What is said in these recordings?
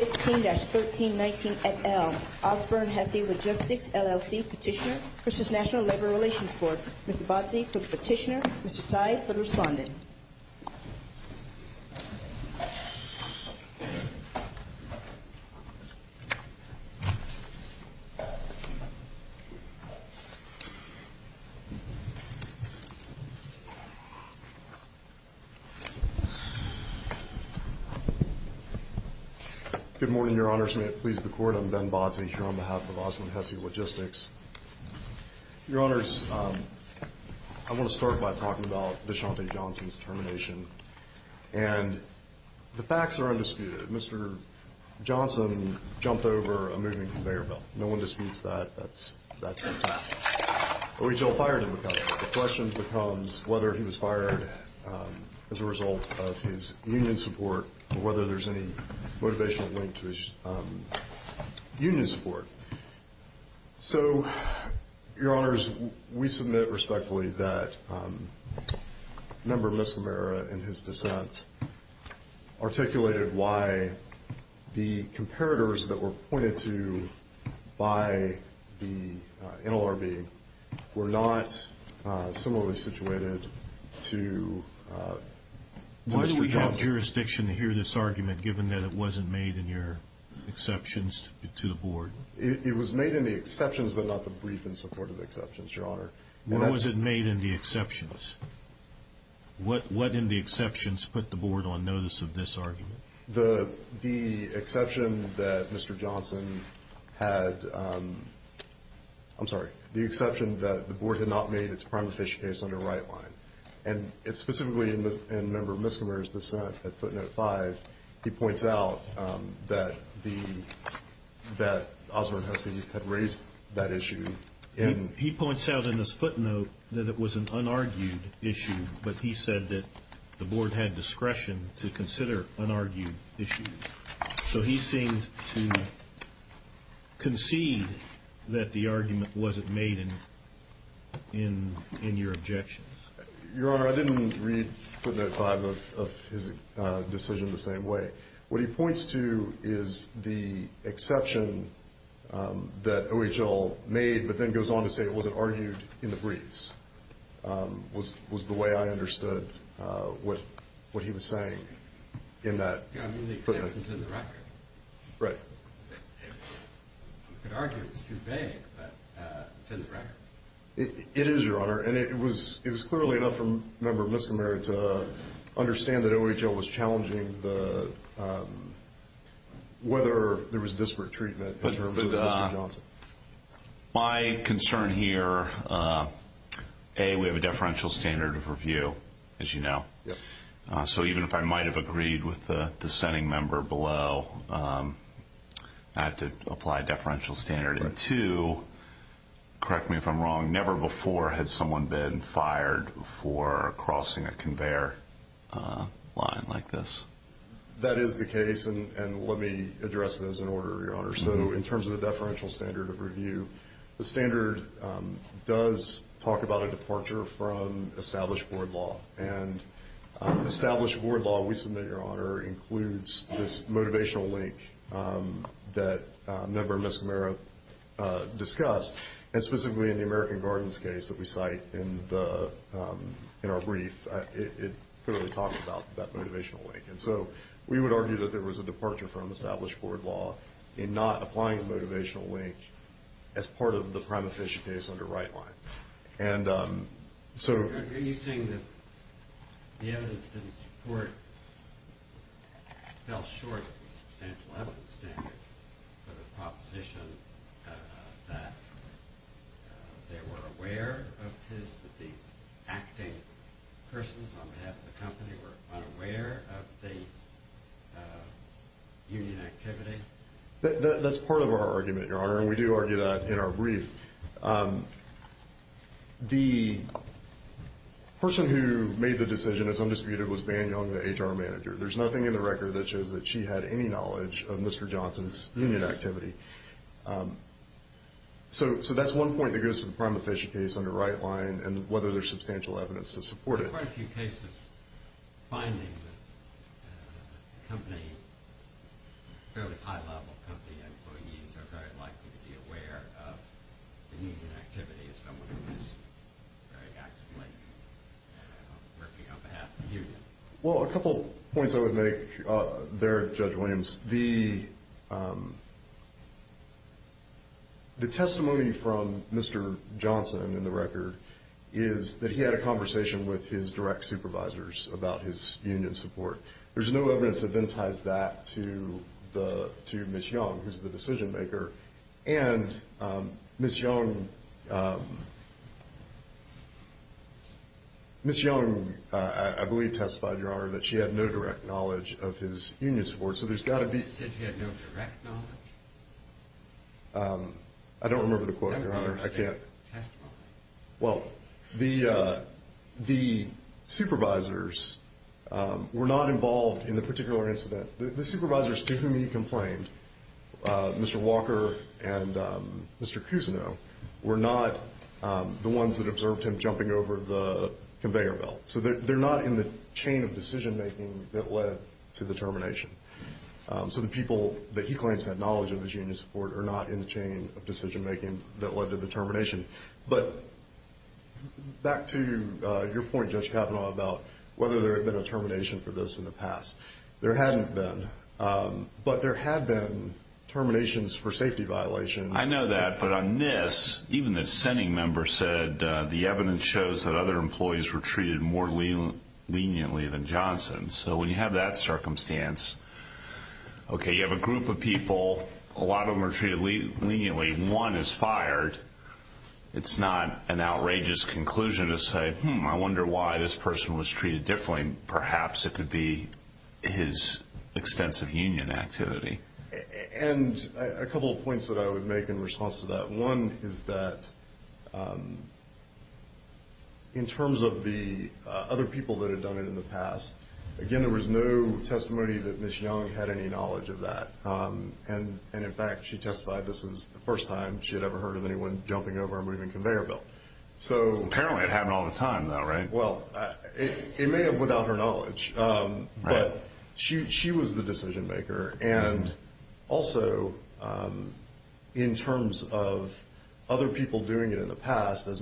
15-1319 et al. Osburn-Hessey Logistics, LLC Petitioner v. National Labor Relations Board Ms. Abadzi for the petitioner, Mr. Tsai for the respondent. Good morning, Your Honors. May it please the Court, I'm Ben Badzi here on behalf of Osburn-Hessey Logistics. Your Honors, I want to start by talking about DeShante Johnson's termination. And the facts are undisputed. Mr. Johnson jumped over a moving conveyor belt. No one disputes that. That's the fact. But we still fired him because of that. The question becomes whether he was fired as a result of his union support or whether there's any motivational link to his union support. So, Your Honors, we submit respectfully that Member Miscimera, in his dissent, articulated why the comparators that were pointed to by the NLRB were not similarly situated to Mr. Johnson. Is it in your jurisdiction to hear this argument, given that it wasn't made in your exceptions to the Board? It was made in the exceptions, but not the brief in support of the exceptions, Your Honor. What was it made in the exceptions? What in the exceptions put the Board on notice of this argument? The exception that Mr. Johnson had... I'm sorry. The exception that the Board had not made its prime official case on the right line. And specifically in Member Miscimera's dissent at footnote 5, he points out that Osburn-Hessey had raised that issue in... So he seemed to concede that the argument wasn't made in your objections. Your Honor, I didn't read footnote 5 of his decision the same way. What he points to is the exception that OHL made, but then goes on to say it wasn't argued in the briefs, was the way I understood what he was saying in that footnote. Yeah, I mean the exception's in the record. Right. You could argue it was too vague, but it's in the record. It is, Your Honor, and it was clearly enough for Member Miscimera to understand that OHL was challenging whether there was disparate treatment in terms of Mr. Johnson. My concern here, A, we have a deferential standard of review, as you know. So even if I might have agreed with the dissenting member below not to apply a deferential standard. And two, correct me if I'm wrong, never before had someone been fired for crossing a conveyor line like this. That is the case, and let me address those in order, Your Honor. So in terms of the deferential standard of review, the standard does talk about a departure from established board law. And established board law, we submit, Your Honor, includes this motivational link that Member Miscimera discussed. And specifically in the American Gardens case that we cite in our brief, it clearly talks about that motivational link. And so we would argue that there was a departure from established board law in not applying a motivational link as part of the prime official case under Wright line. Are you saying that the evidence didn't support, fell short of the substantial evidence standard for the proposition that they were aware of his, that the acting persons on behalf of the company were unaware of the union activity? That's part of our argument, Your Honor, and we do argue that in our brief. The person who made the decision that's undisputed was Van Young, the HR manager. There's nothing in the record that shows that she had any knowledge of Mr. Johnson's union activity. So that's one point that goes to the prime official case under Wright line and whether there's substantial evidence to support it. Are there quite a few cases finding that the company, fairly high-level company employees, are very likely to be aware of the union activity of someone who is very actively working on behalf of the union? Well, a couple points I would make there, Judge Williams. The testimony from Mr. Johnson in the record is that he had a conversation with his direct supervisors about his union support. There's no evidence that then ties that to Ms. Young, who's the decision maker. And Ms. Young, I believe, testified, Your Honor, that she had no direct knowledge of his union support. So there's got to be- You said she had no direct knowledge? I don't remember the quote, Your Honor. I can't- Testify. Well, the supervisors were not involved in the particular incident. The supervisors to whom he complained, Mr. Walker and Mr. Cousineau, were not the ones that observed him jumping over the conveyor belt. So they're not in the chain of decision-making that led to the termination. So the people that he claims had knowledge of his union support are not in the chain of decision-making that led to the termination. But back to your point, Judge Kavanaugh, about whether there had been a termination for this in the past. There hadn't been. But there had been terminations for safety violations. I know that. But on this, even the sending member said the evidence shows that other employees were treated more leniently than Johnson. So when you have that circumstance, okay, you have a group of people. A lot of them are treated leniently. One is fired. It's not an outrageous conclusion to say, hmm, I wonder why this person was treated differently. Perhaps it could be his extensive union activity. And a couple of points that I would make in response to that. One is that in terms of the other people that had done it in the past, again, there was no testimony that Ms. Young had any knowledge of that. And, in fact, she testified this was the first time she had ever heard of anyone jumping over a moving conveyor belt. Apparently it happened all the time, though, right? Well, it may have without her knowledge. Right. But she was the decision maker. And also in terms of other people doing it in the past, as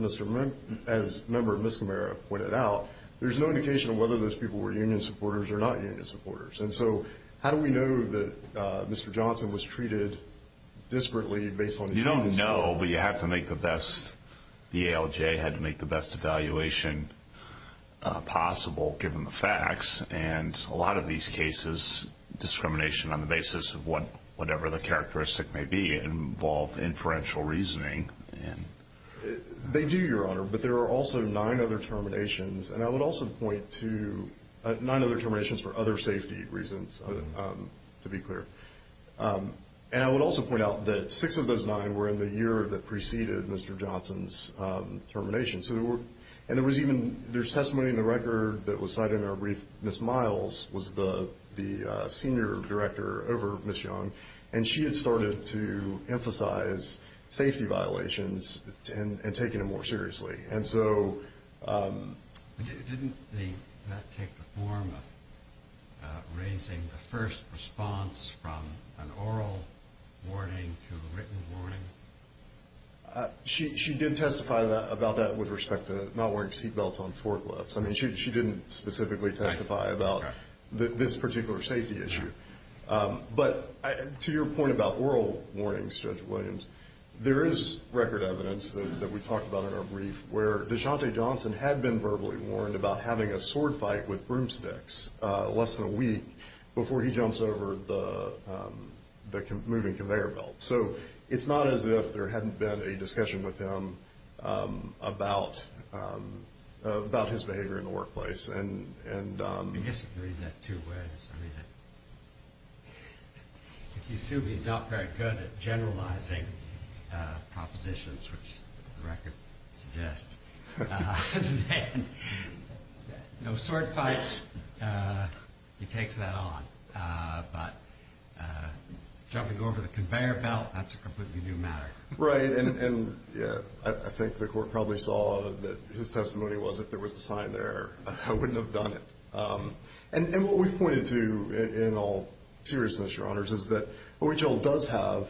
Member Miscamara pointed out, there's no indication of whether those people were union supporters or not union supporters. And so how do we know that Mr. Johnson was treated disparately based on his experience? Well, you don't know, but you have to make the best, the ALJ had to make the best evaluation possible, given the facts. And a lot of these cases, discrimination on the basis of whatever the characteristic may be involved inferential reasoning. They do, Your Honor, but there are also nine other terminations. And I would also point to nine other terminations for other safety reasons, to be clear. And I would also point out that six of those nine were in the year that preceded Mr. Johnson's termination. And there's testimony in the record that was cited in our brief. Ms. Miles was the senior director over Ms. Young, and she had started to emphasize safety violations and taking them more seriously. Didn't that take the form of raising the first response from an oral warning to a written warning? She did testify about that with respect to not wearing seat belts on forklifts. I mean, she didn't specifically testify about this particular safety issue. But to your point about oral warnings, Judge Williams, there is record evidence that we talked about in our brief, where DeShante Johnson had been verbally warned about having a sword fight with broomsticks less than a week before he jumps over the moving conveyor belt. So it's not as if there hadn't been a discussion with him about his behavior in the workplace. I disagree in that two ways. I mean, if you assume he's not very good at generalizing propositions, which the record suggests, then no sword fights, he takes that on. But jumping over the conveyor belt, that's a completely new matter. Right, and I think the court probably saw that his testimony was if there was a sign there, I wouldn't have done it. And what we've pointed to in all seriousness, Your Honors, is that OHL does have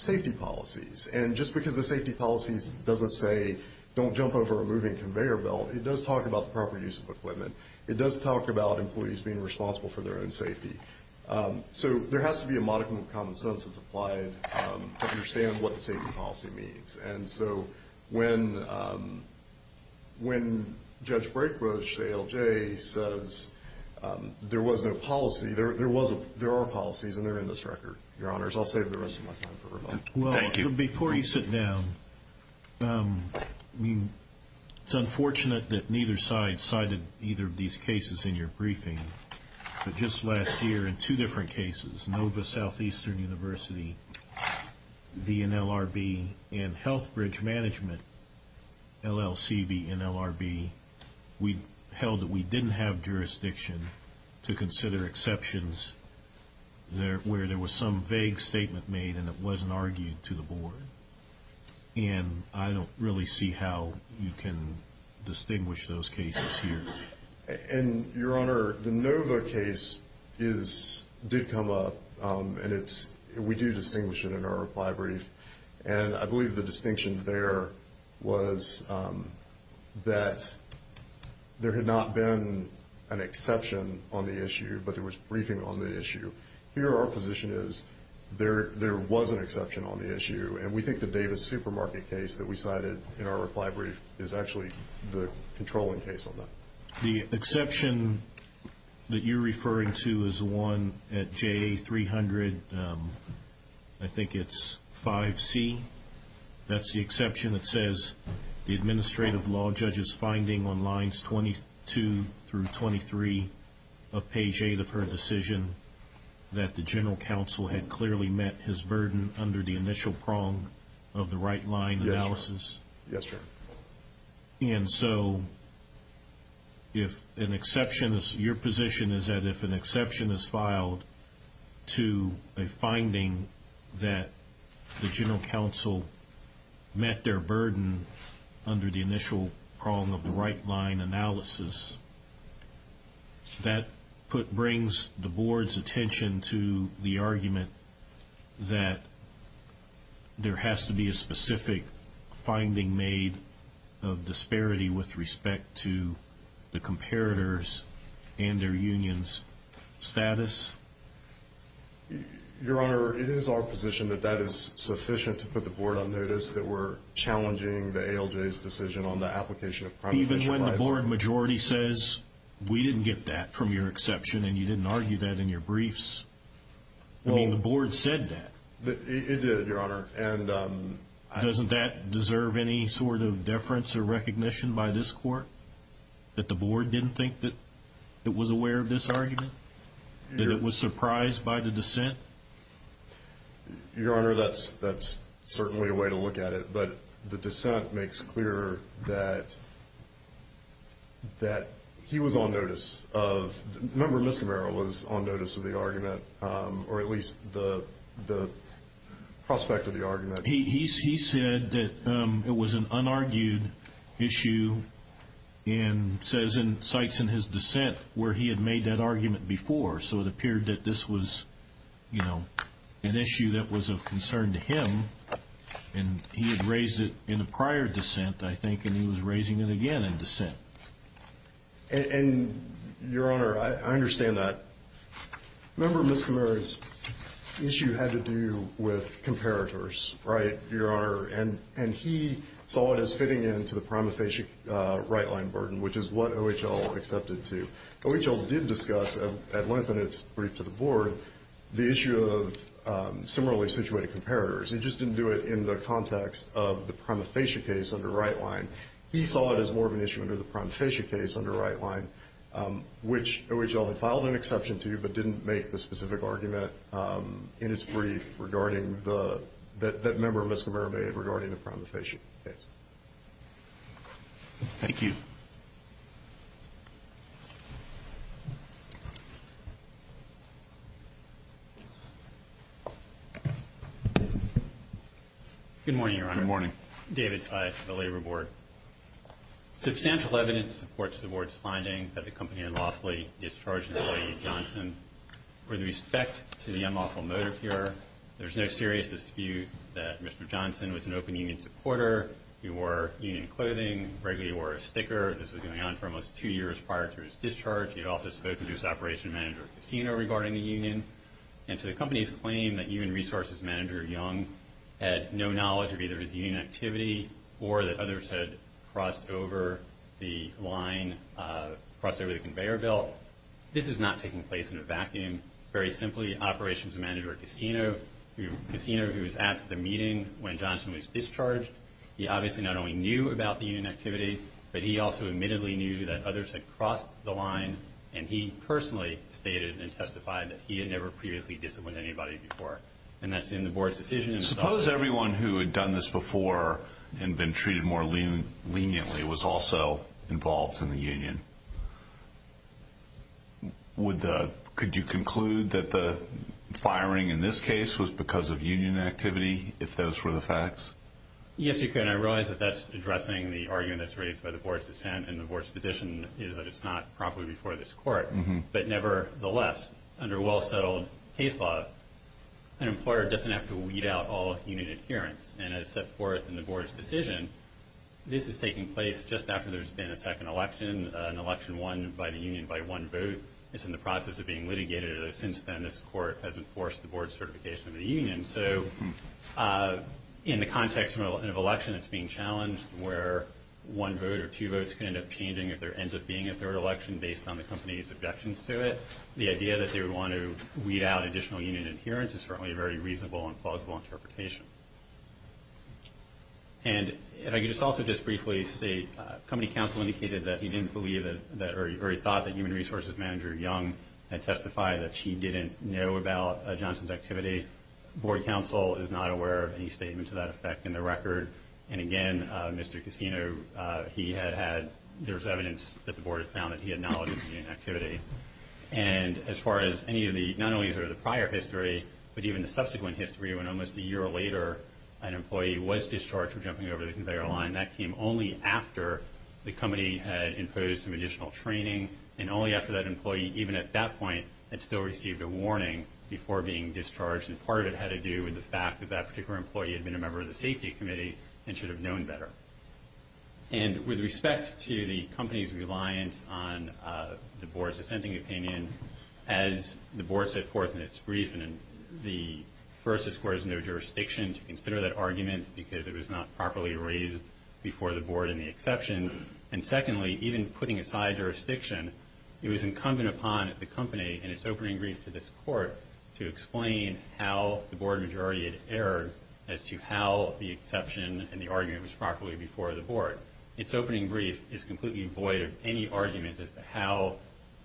safety policies. And just because the safety policies doesn't say don't jump over a moving conveyor belt, it does talk about the proper use of equipment. It does talk about employees being responsible for their own safety. So there has to be a modicum of common sense that's applied to understand what the safety policy means. And so when Judge Brekosch, ALJ, says there was no policy, there are policies, and they're in this record. Your Honors, I'll save the rest of my time for rebuttal. Well, before you sit down, it's unfortunate that neither side cited either of these cases in your briefing. But just last year in two different cases, Nova Southeastern University v. NLRB and Health Bridge Management LLC v. NLRB, we held that we didn't have jurisdiction to consider exceptions where there was some vague statement made and it wasn't argued to the board. And I don't really see how you can distinguish those cases here. Your Honor, the Nova case did come up, and we do distinguish it in our reply brief. And I believe the distinction there was that there had not been an exception on the issue, but there was briefing on the issue. Here our position is there was an exception on the issue, and we think the Davis supermarket case that we cited in our reply brief is actually the controlling case on that. The exception that you're referring to is the one at JA 300, I think it's 5C. That's the exception that says the administrative law judge's finding on lines 22 through 23 of page 8 of her decision that the general counsel had clearly met his burden under the initial prong of the right-line analysis. Yes, Your Honor. And so your position is that if an exception is filed to a finding that the general counsel met their burden under the initial prong of the right-line analysis, that brings the board's attention to the argument that there has to be a specific finding made of disparity with respect to the comparators and their union's status? Your Honor, it is our position that that is sufficient to put the board on notice that we're challenging the ALJ's decision on the application of primary fiduciary liability. But even when the board majority says, we didn't get that from your exception and you didn't argue that in your briefs, I mean, the board said that. It did, Your Honor. Doesn't that deserve any sort of deference or recognition by this court, that the board didn't think that it was aware of this argument? Your Honor, that's certainly a way to look at it. But the dissent makes clear that he was on notice of the argument, or at least the prospect of the argument. He said that it was an unargued issue in sites in his dissent where he had made that argument before. So it appeared that this was, you know, an issue that was of concern to him. And he had raised it in a prior dissent, I think, and he was raising it again in dissent. And, Your Honor, I understand that. Remember, Ms. Kamara's issue had to do with comparators, right, Your Honor? And he saw it as fitting in to the prima facie right-line burden, which is what OHL accepted to. OHL did discuss at length in its brief to the board the issue of similarly situated comparators. It just didn't do it in the context of the prima facie case under right-line. He saw it as more of an issue under the prima facie case under right-line, which OHL had filed an exception to, but didn't make the specific argument in its brief regarding that member Ms. Kamara made regarding the prima facie case. Thank you. Good morning, Your Honor. Good morning. David Sykes, the Labor Board. Substantial evidence supports the board's finding that the company unlawfully discharged an employee, Johnson. With respect to the unlawful motive here, there's no serious dispute that Mr. Johnson was an open union supporter. He wore union clothing, regularly wore a sticker. This was going on for almost two years prior to his discharge. He had also spoken to his operations manager at the casino regarding the union. And to the company's claim that union resources manager Young had no knowledge of either his union activity or that others had crossed over the line, crossed over the conveyor belt, this is not taking place in a vacuum. Very simply, operations manager at the casino, who was at the meeting when Johnson was discharged, he obviously not only knew about the union activity, but he also admittedly knew that others had crossed the line. And he personally stated and testified that he had never previously disciplined anybody before. And that's in the board's decision. Suppose everyone who had done this before and been treated more leniently was also involved in the union. Could you conclude that the firing in this case was because of union activity, if those were the facts? Yes, you could, and I realize that that's addressing the argument that's raised by the board's dissent and the board's position is that it's not properly before this court. But nevertheless, under well-settled case law, an employer doesn't have to weed out all union adherence. And as set forth in the board's decision, this is taking place just after there's been a second election, an election won by the union by one vote is in the process of being litigated. And since then, this court has enforced the board's certification of the union. So in the context of an election that's being challenged where one vote or two votes can end up changing if there ends up being a third election based on the company's objections to it, the idea that they would want to weed out additional union adherence is certainly a very reasonable and plausible interpretation. And if I could just also just briefly state, company counsel indicated that he didn't believe or he thought that human resources manager Young had testified that she didn't know about Johnson's activity. Board counsel is not aware of any statement to that effect in the record. And again, Mr. Cassino, he had had, there was evidence that the board had found that he had knowledge of union activity. And as far as any of the, not only the prior history, but even the subsequent history when almost a year later an employee was discharged from jumping over the conveyor line, that came only after the company had imposed some additional training. And only after that employee, even at that point, had still received a warning before being discharged. And part of it had to do with the fact that that particular employee had been a member of the safety committee and should have known better. And with respect to the company's reliance on the board's dissenting opinion, as the board set forth in its brief, and the first, this court has no jurisdiction to consider that argument because it was not properly raised before the board in the exceptions. And secondly, even putting aside jurisdiction, it was incumbent upon the company in its opening brief to this court to explain how the board majority had erred as to how the exception and the argument was properly before the board. Its opening brief is completely void of any argument as to how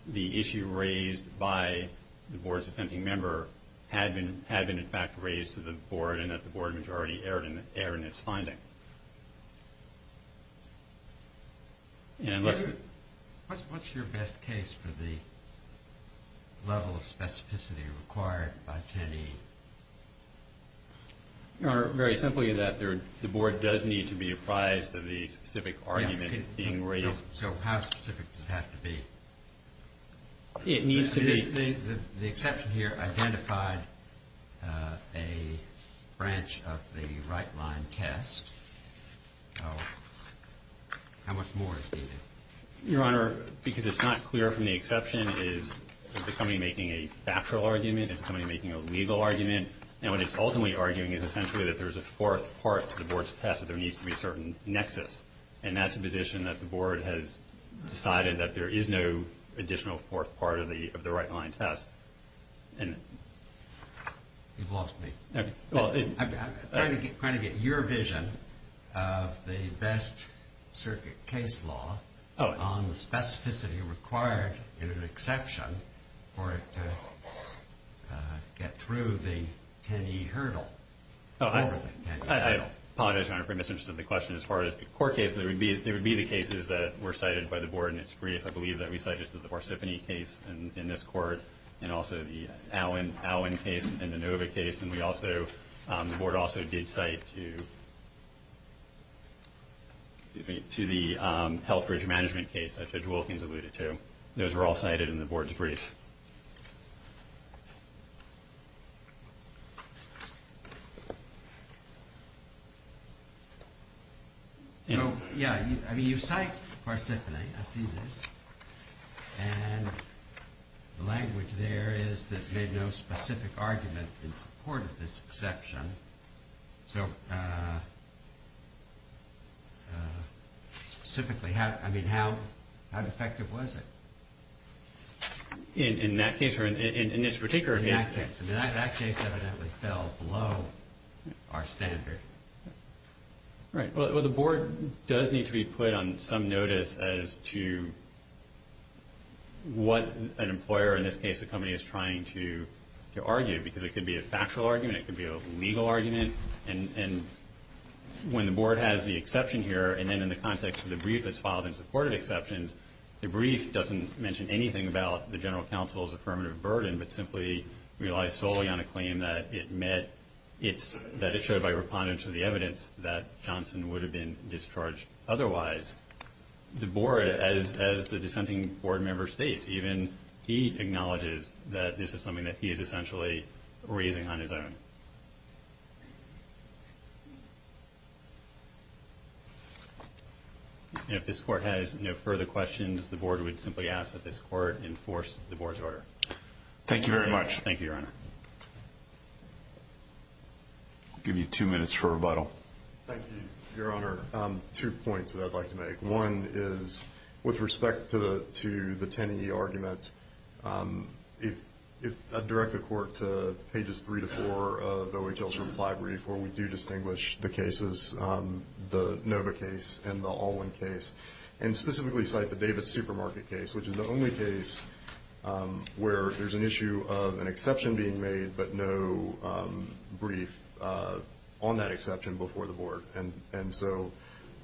the issue raised by the board's dissenting member had been in fact raised to the board and that the board majority erred in its finding. What's your best case for the level of specificity required by 10E? Very simply that the board does need to be apprised of the specific argument being raised. So how specific does it have to be? It needs to be. The exception here identified a branch of the right-line test. How much more is needed? Your Honor, because it's not clear from the exception, is the company making a factual argument? Is the company making a legal argument? And what it's ultimately arguing is essentially that there's a fourth part to the board's test, that there needs to be a certain nexus. And that's a position that the board has decided that there is no additional fourth part of the right-line test. You've lost me. I'm trying to get your vision of the best circuit case law on the specificity required in an exception for it to get through the 10E hurdle. I apologize, Your Honor, for your misinterest in the question. As far as the court case, there would be the cases that were cited by the board in its brief. I believe that we cited the Varsifini case in this court and also the Allen case and the Nova case. And the board also did cite to the Health Bridge Management case that Judge Wilkins alluded to. Those were all cited in the board's brief. So, yeah, I mean, you cite Varsifini. I see this. And the language there is that there's no specific argument in support of this exception. So, specifically, I mean, how effective was it? In that case or in this particular case? In that case. I mean, that case evidently fell below our standard. Right. Well, the board does need to be put on some notice as to what an employer, in this case the company, is trying to argue. Because it could be a factual argument. It could be a legal argument. And when the board has the exception here, and then in the context of the brief that's filed in support of exceptions, the brief doesn't mention anything about the general counsel's affirmative burden but simply relies solely on a claim that it showed by repondence to the evidence that Johnson would have been discharged otherwise. The board, as the dissenting board member states, even he acknowledges that this is something that he is essentially raising on his own. And if this court has no further questions, the board would simply ask that this court enforce the board's order. Thank you very much. Thank you, Your Honor. I'll give you two minutes for rebuttal. Thank you, Your Honor. Two points that I'd like to make. One is, with respect to the Tenney argument, I'd direct the court to pages three to four of OHL's reply brief where we do distinguish the cases, the Nova case and the Alwyn case, and specifically cite the Davis supermarket case, which is the only case where there's an issue of an exception being made but no brief on that exception before the board. And so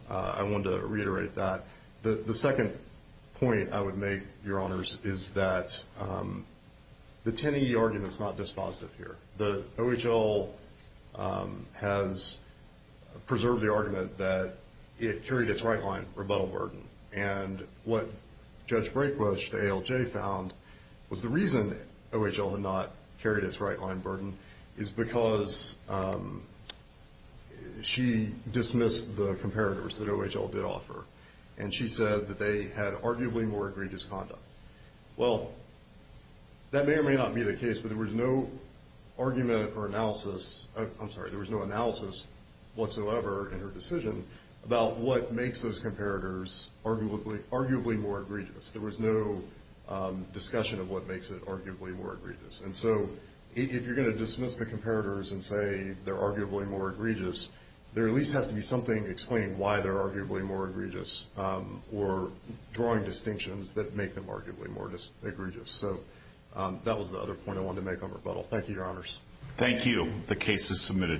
I wanted to reiterate that. The second point I would make, Your Honors, is that the Tenney argument is not dispositive here. OHL has preserved the argument that it carried its right-line rebuttal burden. And what Judge Brayquist, ALJ found, was the reason OHL had not carried its right-line burden is because she dismissed the comparators that OHL did offer, and she said that they had arguably more egregious conduct. Well, that may or may not be the case, but there was no argument or analysis. I'm sorry, there was no analysis whatsoever in her decision about what makes those comparators arguably more egregious. There was no discussion of what makes it arguably more egregious. And so if you're going to dismiss the comparators and say they're arguably more egregious, there at least has to be something explaining why they're arguably more egregious or drawing distinctions that make them arguably more egregious. So that was the other point I wanted to make on rebuttal. Thank you, Your Honors. Thank you. The case is submitted.